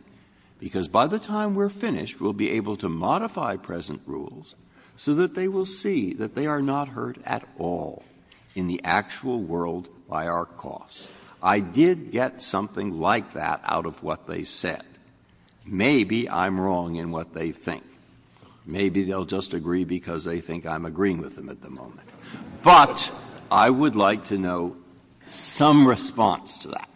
because by the time we're finished, we'll be able to modify present rules so that they will see that they are not hurt at all in the actual world by our costs. I did get something like that out of what they said. Maybe I'm wrong in what they think. Maybe they'll just agree because they think I'm agreeing with them at the moment. But I would like to know some response to that.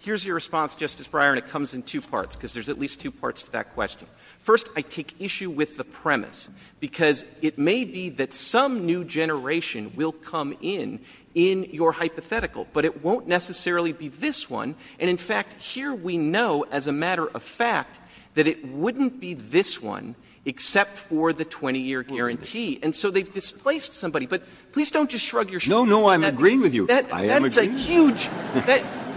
Here's your response, Justice Breyer, and it comes in two parts, because there's at least two parts to that question. First, I take issue with the premise, because it may be that some new generation will come in, in your hypothetical, but it won't necessarily be this one. And in fact, here we know as a matter of fact that it wouldn't be this one, except for the 20-year guarantee. And so they've displaced somebody. But please don't just shrug your shoulders. No, no, I'm agreeing with you. I am agreeing. That's a huge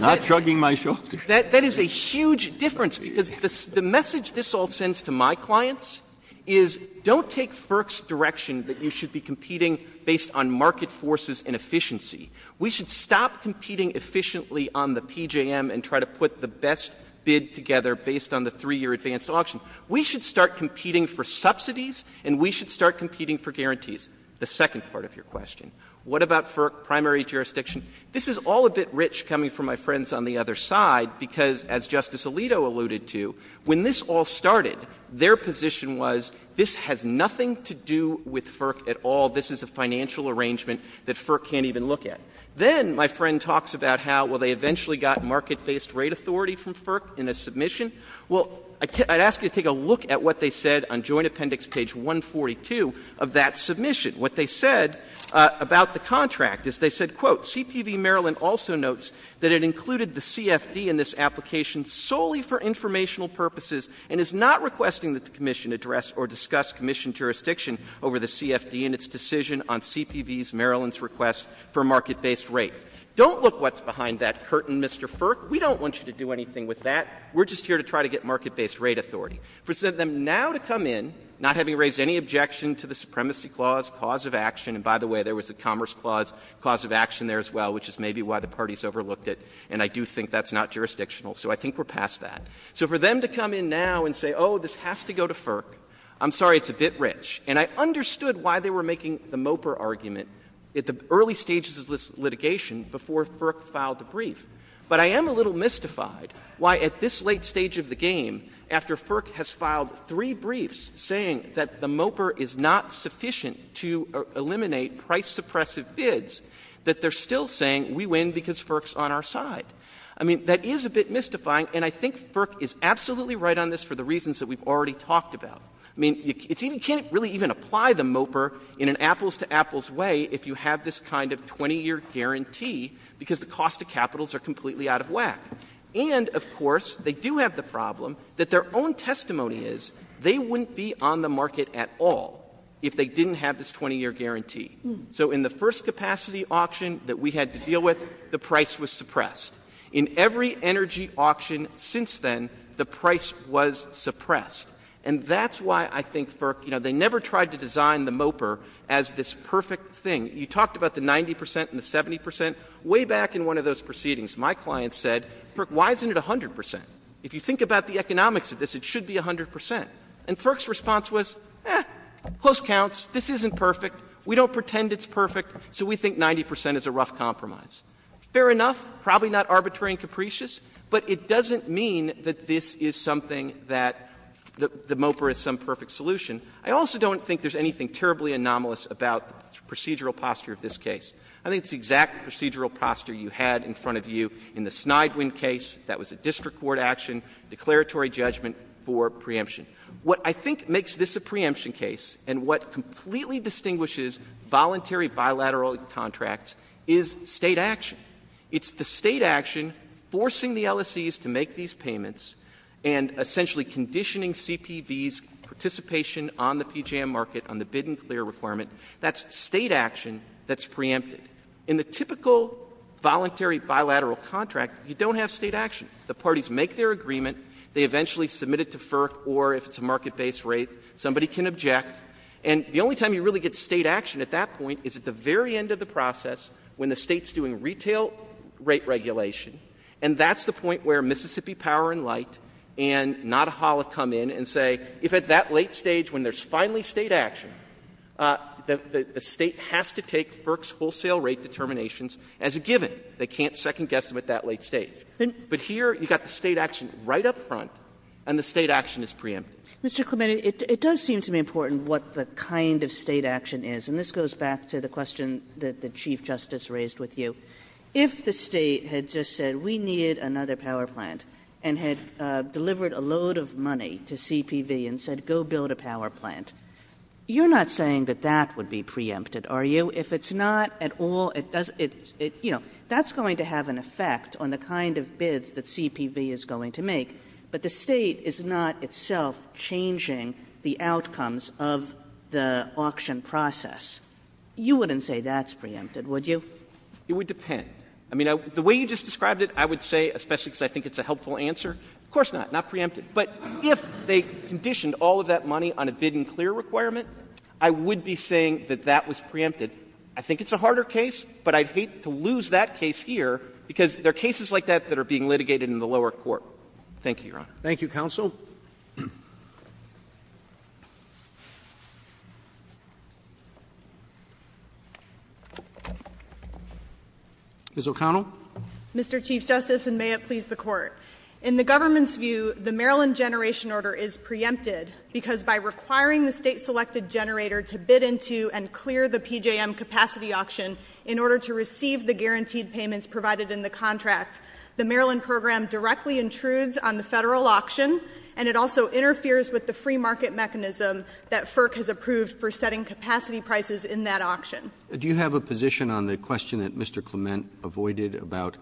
— Not shrugging my shoulders. That is a huge difference, because the message this all sends to my clients is don't take FERC's direction that you should be competing based on market forces and efficiency. We should stop competing efficiently on the PJM and try to put the best bid together based on the 3-year advanced auction. We should start competing for subsidies, and we should start competing for guarantees, the second part of your question. What about FERC primary jurisdiction? This is all a bit rich coming from my friends on the other side, because, as Justice to do with FERC at all. This is a financial arrangement that FERC can't even look at. Then my friend talks about how, well, they eventually got market-based rate authority from FERC in a submission. Well, I'd ask you to take a look at what they said on Joint Appendix page 142 of that submission. What they said about the contract is they said, quote, ''CPV Maryland also notes that it included the CFD in this application solely for informational purposes and is not requesting that the Commission address or discuss Commission jurisdiction over the CFD in its decision on CPV's Maryland's request for market-based rate.'' Don't look what's behind that curtain, Mr. FERC. We don't want you to do anything with that. We're just here to try to get market-based rate authority. For them now to come in, not having raised any objection to the Supremacy Clause, cause of action, and by the way, there was a Commerce Clause, cause of action there as well, which is maybe why the parties overlooked it, and I do think that's not jurisdictional. So I think we're past that. So for them to come in now and say, oh, this has to go to FERC, I'm sorry, it's a bit rich, and I understood why they were making the MOPR argument at the early stages of this litigation before FERC filed the brief, but I am a little mystified why at this late stage of the game, after FERC has filed three briefs saying that the MOPR is not sufficient to eliminate price-suppressive bids, that they're still saying we win because FERC's on our side. I mean, that is a bit mystifying, and I think FERC is absolutely right on this for the reasons that we've already talked about. I mean, you can't really even apply the MOPR in an apples-to-apples way if you have this kind of 20-year guarantee, because the cost of capitals are completely out of whack. And, of course, they do have the problem that their own testimony is they wouldn't be on the market at all if they didn't have this 20-year guarantee. So in the first capacity auction that we had to deal with, the price was suppressed. In every energy auction since then, the price was suppressed. And that's why I think FERC, you know, they never tried to design the MOPR as this perfect thing. You talked about the 90 percent and the 70 percent. Way back in one of those proceedings, my client said, FERC, why isn't it 100 percent? If you think about the economics of this, it should be 100 percent. And FERC's response was, eh, close counts. This isn't perfect. We don't pretend it's perfect, so we think 90 percent is a rough compromise. Fair enough. Probably not arbitrary and capricious, but it doesn't mean that this is something that the MOPR is some perfect solution. I also don't think there's anything terribly anomalous about the procedural posture of this case. I think it's the exact procedural posture you had in front of you in the Snidewind case. That was a district court action, declaratory judgment for preemption. What I think makes this a preemption case and what completely distinguishes voluntary bilateral contracts is State action. It's the State action forcing the LSEs to make these payments and essentially conditioning CPVs' participation on the PJM market on the bid and clear requirement. That's State action that's preempted. In the typical voluntary bilateral contract, you don't have State action. The parties make their agreement. They eventually submit it to FERC, or if it's a market-based rate, somebody can object, and the only time you really get State action at that point is at the very end of the process when the State's doing retail rate regulation, and that's the point where Mississippi Power and Light and Nodahala come in and say, if at that late stage when there's finally State action, the State has to take FERC's wholesale rate determinations as a given. They can't second-guess them at that late stage. But here you've got the State action right up front, and the State action is preempted. Kagan. Mr. Clemente, it does seem to be important what the kind of State action is, and this goes back to the question that the Chief Justice raised with you. If the State had just said, we need another power plant, and had delivered a load of money to CPV and said, go build a power plant, you're not saying that that would be preempted, are you? If it's not at all, it doesn't – you know, that's going to have an effect on the outcomes of the auction process, you wouldn't say that's preempted, would you? It would depend. I mean, the way you just described it, I would say, especially because I think it's a helpful answer, of course not, not preempted. But if they conditioned all of that money on a bid-and-clear requirement, I would be saying that that was preempted. I think it's a harder case, but I'd hate to lose that case here, because there are cases like that that are being litigated in the lower court. Thank you, Your Honor. Thank you, counsel. Ms. O'Connell. Mr. Chief Justice, and may it please the Court. In the government's view, the Maryland generation order is preempted because by requiring the state-selected generator to bid into and clear the PJM capacity auction in order to receive the guaranteed payments provided in the contract, the Maryland program directly intrudes on the Federal auction, and it also interferes with the free market mechanism that FERC has approved for setting capacity prices in that auction. Do you have a position on the question that Mr. Clement avoided about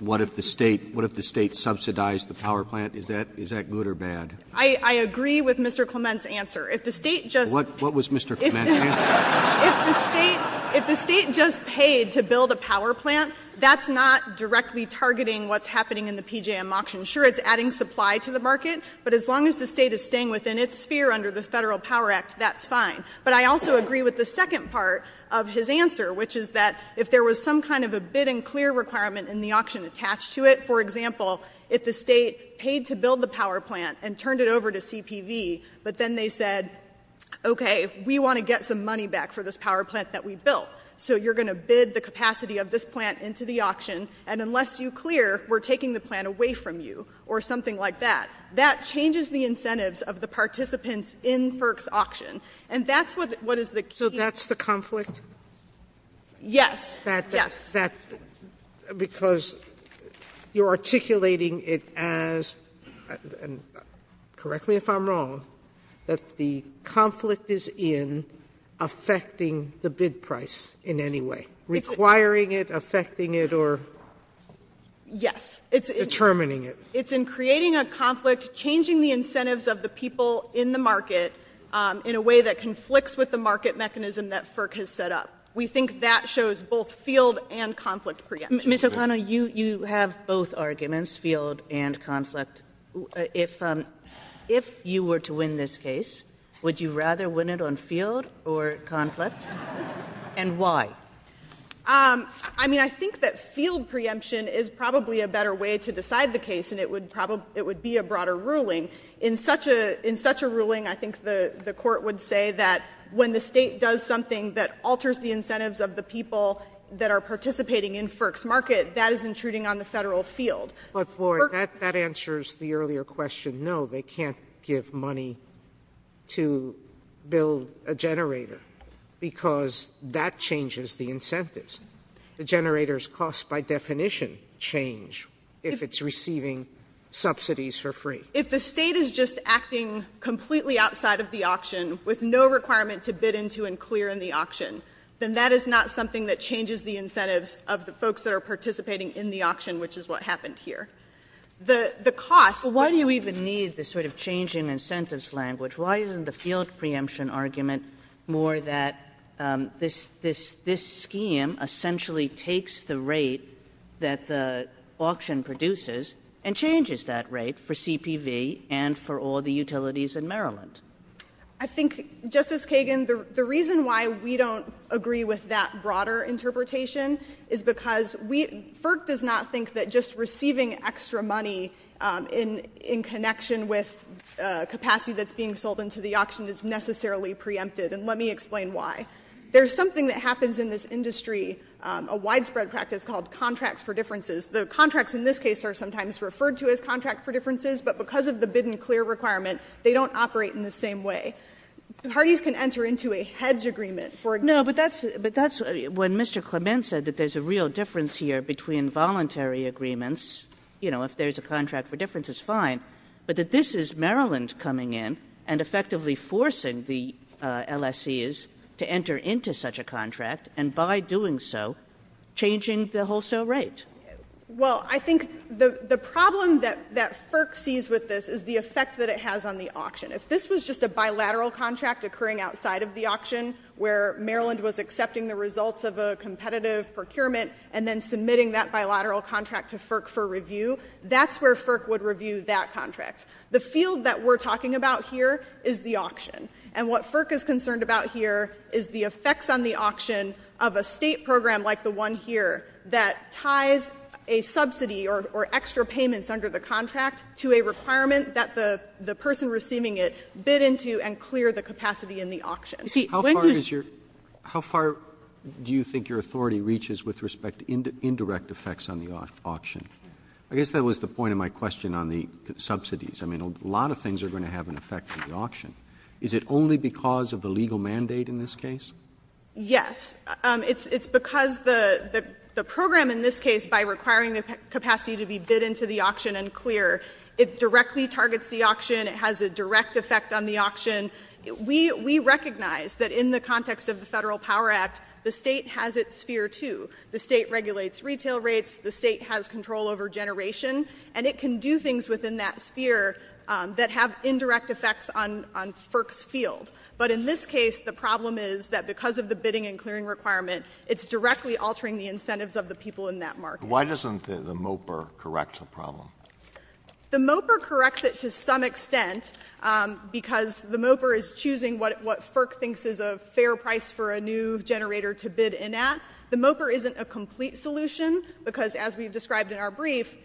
what if the State subsidized the power plant? Is that good or bad? I agree with Mr. Clement's answer. If the State just — What was Mr. Clement's answer? If the State — if the State just paid to build a power plant, that's not directly targeting what's happening in the PJM auction. Sure, it's adding supply to the market, but as long as the State is staying within its sphere under the Federal Power Act, that's fine. But I also agree with the second part of his answer, which is that if there was some kind of a bid and clear requirement in the auction attached to it — for example, if the State paid to build the power plant and turned it over to CPV, but then they said, okay, we want to get some money back for this power plant that we built, so you're going to bid the capacity of this plant into the auction, and unless you clear, we're taking the plant away from you, or something like that, that changes the incentives of the participants in FERC's auction. And that's what is the key — So that's the conflict? Yes. Yes. That — because you're articulating it as — and correct me if I'm wrong — that the conflict is in affecting the bid price in any way, requiring it, affecting it, or determining it. Yes. It's in creating a conflict, changing the incentives of the people in the market in a way that conflicts with the market mechanism that FERC has set up. We think that shows both field and conflict preemptions. Ms. O'Connor, you have both arguments, field and conflict. If you were to win this case, would you rather win it on field or conflict? And why? I mean, I think that field preemption is probably a better way to decide the case, and it would be a broader ruling. In such a ruling, I think the Court would say that when the State does something that alters the incentives of the people that are participating in FERC's market, that is intruding on the Federal field. But, Floyd, that answers the earlier question. No, they can't give money to build a generator because that changes the incentives. The generators' costs, by definition, change if it's receiving subsidies for free. If the State is just acting completely outside of the auction with no requirement to bid into and clear in the auction, then that is not something that changes the incentives here. The costs. Why do you even need this sort of changing incentives language? Why isn't the field preemption argument more that this scheme essentially takes the rate that the auction produces and changes that rate for CPV and for all the utilities in Maryland? I think, Justice Kagan, the reason why we don't agree with that broader interpretation is because we — FERC does not think that just receiving extra money in connection with capacity that's being sold into the auction is necessarily preempted, and let me explain why. There's something that happens in this industry, a widespread practice called contracts for differences. The contracts in this case are sometimes referred to as contracts for differences, but because of the bid and clear requirement, they don't operate in the same way. Parties can enter into a hedge agreement for a general. But that's when Mr. Clement said that there's a real difference here between voluntary agreements, you know, if there's a contract for differences, fine, but that this is Maryland coming in and effectively forcing the LSEs to enter into such a contract, and by doing so, changing the wholesale rate. Well, I think the problem that FERC sees with this is the effect that it has on the auction. If this was just a bilateral contract occurring outside of the auction where Maryland was accepting the results of a competitive procurement and then submitting that bilateral contract to FERC for review, that's where FERC would review that contract. The field that we're talking about here is the auction, and what FERC is concerned about here is the effects on the auction of a State program like the one here that ties a subsidy or extra payments under the contract to a requirement that the person receiving it bid into and clear the capacity in the auction. Roberts, how far is your, how far do you think your authority reaches with respect to indirect effects on the auction? I guess that was the point of my question on the subsidies. I mean, a lot of things are going to have an effect on the auction. Is it only because of the legal mandate in this case? Yes. It's because the program in this case, by requiring the capacity to be bid into the auction, we recognize that in the context of the Federal Power Act, the State has its sphere too. The State regulates retail rates. The State has control over generation, and it can do things within that sphere that have indirect effects on FERC's field. But in this case, the problem is that because of the bidding and clearing requirement, it's directly altering the incentives of the people in that market. Why doesn't the MOPR correct the problem? The MOPR corrects it to some extent because the MOPR is choosing what FERC thinks is a fair price for a new generator to bid in at. The MOPR isn't a complete solution because, as we've described in our brief,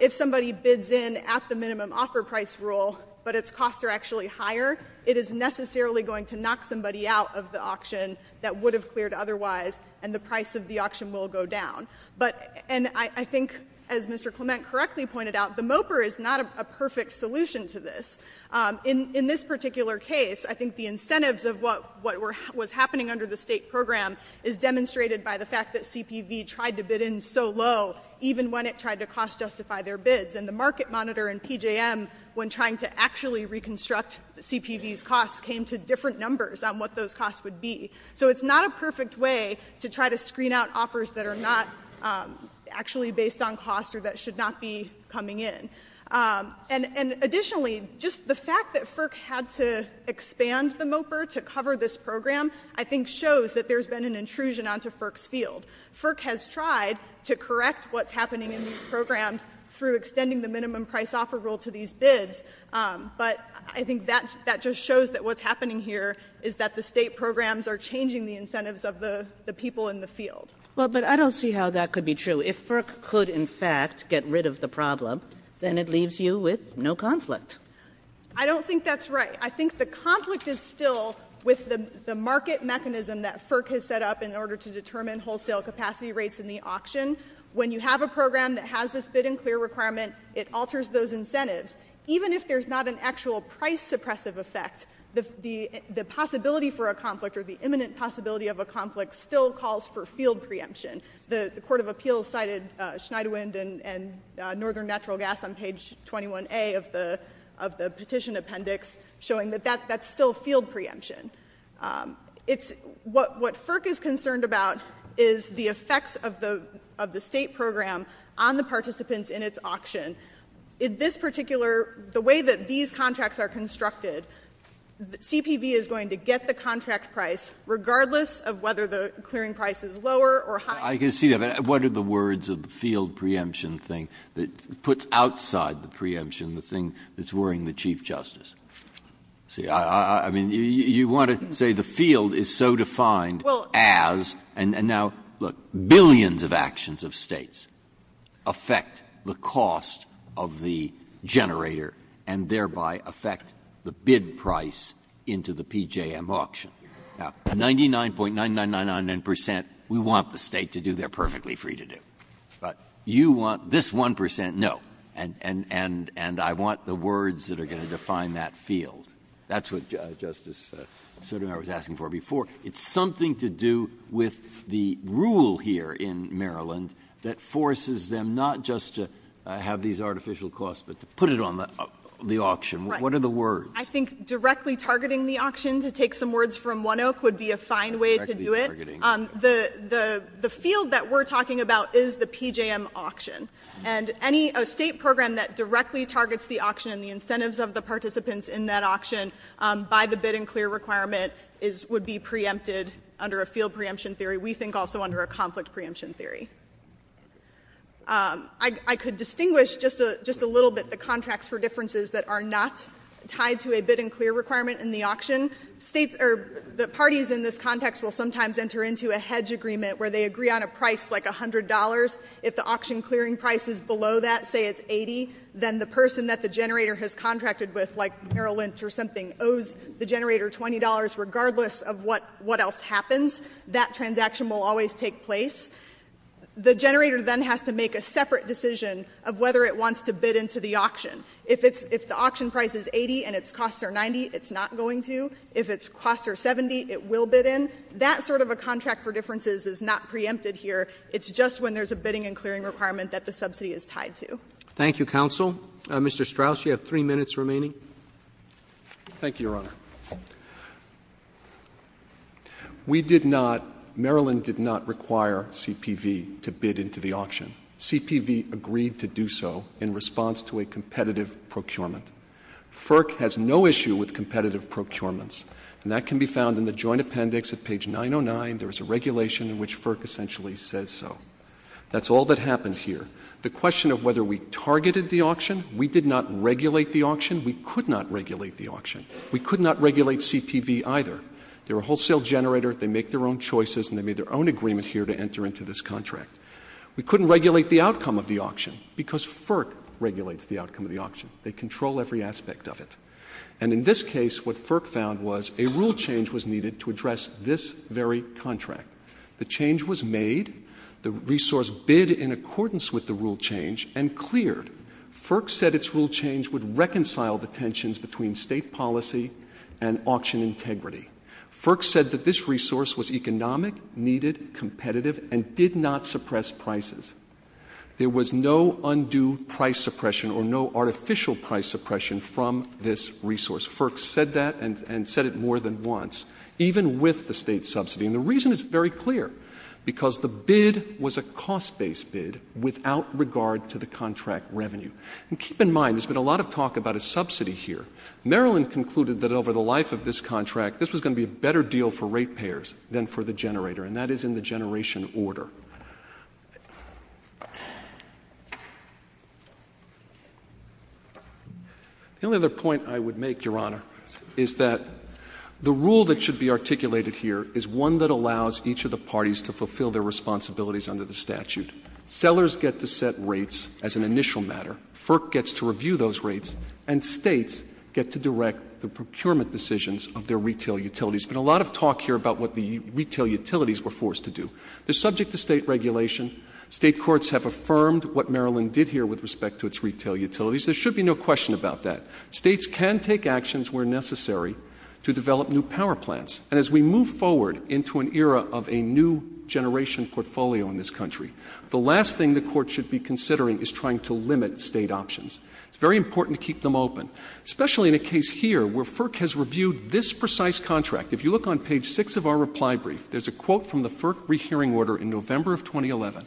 if somebody bids in at the minimum offer price rule, but its costs are actually higher, it is necessarily going to knock somebody out of the auction that would have cleared otherwise, and the price of the auction will go down. But, and I think, as Mr. Clement correctly pointed out, the MOPR is not a perfect solution to this. In this particular case, I think the incentives of what was happening under the State program is demonstrated by the fact that CPV tried to bid in so low, even when it tried to cost-justify their bids. And the market monitor in PJM, when trying to actually reconstruct CPV's costs, came to different numbers on what those costs would be. So it's not a perfect way to try to screen out offers that are not actually based on cost or that should not be coming in. And additionally, just the fact that FERC had to expand the MOPR to cover this program, I think shows that there's been an intrusion onto FERC's field. FERC has tried to correct what's happening in these programs through extending the minimum price offer rule to these bids, but I think that just shows that what's happening here is that the State programs are changing the incentives of the people in the field. Kagan. Well, but I don't see how that could be true. If FERC could, in fact, get rid of the problem, then it leaves you with no conflict. I don't think that's right. I think the conflict is still with the market mechanism that FERC has set up in order to determine wholesale capacity rates in the auction. When you have a program that has this bid and clear requirement, it alters those incentives. Even if there's not an actual price suppressive effect, the possibility for a conflict or the imminent possibility of a conflict still calls for field preemption. The Court of Appeals cited Schneiderwind and Northern Natural Gas on page 21A of the petition appendix, showing that that's still field preemption. What FERC is concerned about is the effects of the State program on the participants in its auction. In this particular the way that these contracts are constructed, CPV is going to get the contract price regardless of whether the clearing price is lower or higher. Breyer, what are the words of the field preemption thing that puts outside the preemption the thing that's worrying the Chief Justice? I mean, you want to say the field is so defined as, and now, look, billions of actions of States affect the cost of the generator and thereby affect the bid price into the PJM auction. Now, 99.9999 percent, we want the State to do their perfectly free to do. But you want this 1 percent, no. And I want the words that are going to define that field. That's what Justice Sotomayor was asking for before. It's something to do with the rule here in Maryland that forces them not just to have these artificial costs, but to put it on the auction. What are the words? I think directly targeting the auction to take some words from One Oak would be a fine way to do it. The field that we're talking about is the PJM auction. And any State program that directly targets the auction and the incentives of the participants in that auction by the bid and clear requirement would be preempted under a field preemption theory. We think also under a conflict preemption theory. I could distinguish just a little bit the contracts for differences that are not tied to a bid and clear requirement in the auction. The parties in this context will sometimes enter into a hedge agreement where they agree on a price like $100. If the auction clearing price is below that, say it's $80, then the person that the generator has contracted with, like Merrill Lynch or something, owes the generator $20 regardless of what else happens, that transaction will always take place. The generator then has to make a separate decision of whether it wants to bid into the auction. If the auction price is $80 and its costs are $90, it's not going to. If its costs are $70, it will bid in. That sort of a contract for differences is not preempted here. It's just when there's a bidding and clearing requirement that the subsidy is tied to. Thank you, counsel. Mr. Strauss, you have three minutes remaining. Thank you, Your Honor. We did not, Maryland did not require CPV to bid into the auction. CPV agreed to do so in response to a competitive procurement. FERC has no issue with competitive procurements, and that can be found in the joint appendix at page 909. There is a regulation in which FERC essentially says so. That's all that happened here. The question of whether we targeted the auction, we did not regulate the auction, we could not regulate the auction. We could not regulate CPV either. They're a wholesale generator, they make their own choices, and they made their own agreement here to enter into this contract. We couldn't regulate the outcome of the auction because FERC regulates the outcome of the auction. They control every aspect of it. And in this case, what FERC found was a rule change was needed to address this very contract. The change was made, the resource bid in accordance with the rule change, and cleared. FERC said its rule change would reconcile the tensions between state policy and auction integrity. FERC said that this resource was economic, needed, competitive, and did not suppress prices. There was no undue price suppression or no artificial price suppression from this resource. FERC said that and said it more than once, even with the state subsidy. And the reason is very clear, because the bid was a cost-based bid without regard to the contract revenue. And keep in mind, there's been a lot of talk about a subsidy here. Maryland concluded that over the life of this contract, this was going to be a better deal for rate payers than for the generator, and that is in the generation order. The only other point I would make, Your Honor, is that the rule that should be articulated here is one that allows each of the parties to fulfill their responsibilities under the statute. Sellers get to set rates as an initial matter. FERC gets to review those rates, and states get to direct the procurement decisions of their retail utilities. There's been a lot of talk here about what the retail utilities were forced to do. They're subject to state regulation. State courts have affirmed what Maryland did here with respect to its retail utilities. There should be no question about that. States can take actions where necessary to develop new power plants. As we move forward into an era of a new generation portfolio in this country, the last thing the Court should be considering is trying to limit state options. It's very important to keep them open, especially in a case here where FERC has reviewed this precise contract. If you look on page 6 of our reply brief, there's a quote from the FERC rehearing order in November of 2011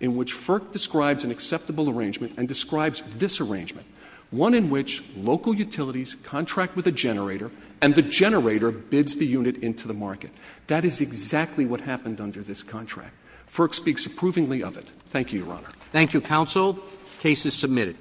in which FERC describes an acceptable arrangement and describes this arrangement, one in which local utilities contract with a generator, and the generator bids the unit into the market. That is exactly what happened under this contract. FERC speaks approvingly of it. Thank you, Your Honor. Thank you, counsel. The case is submitted.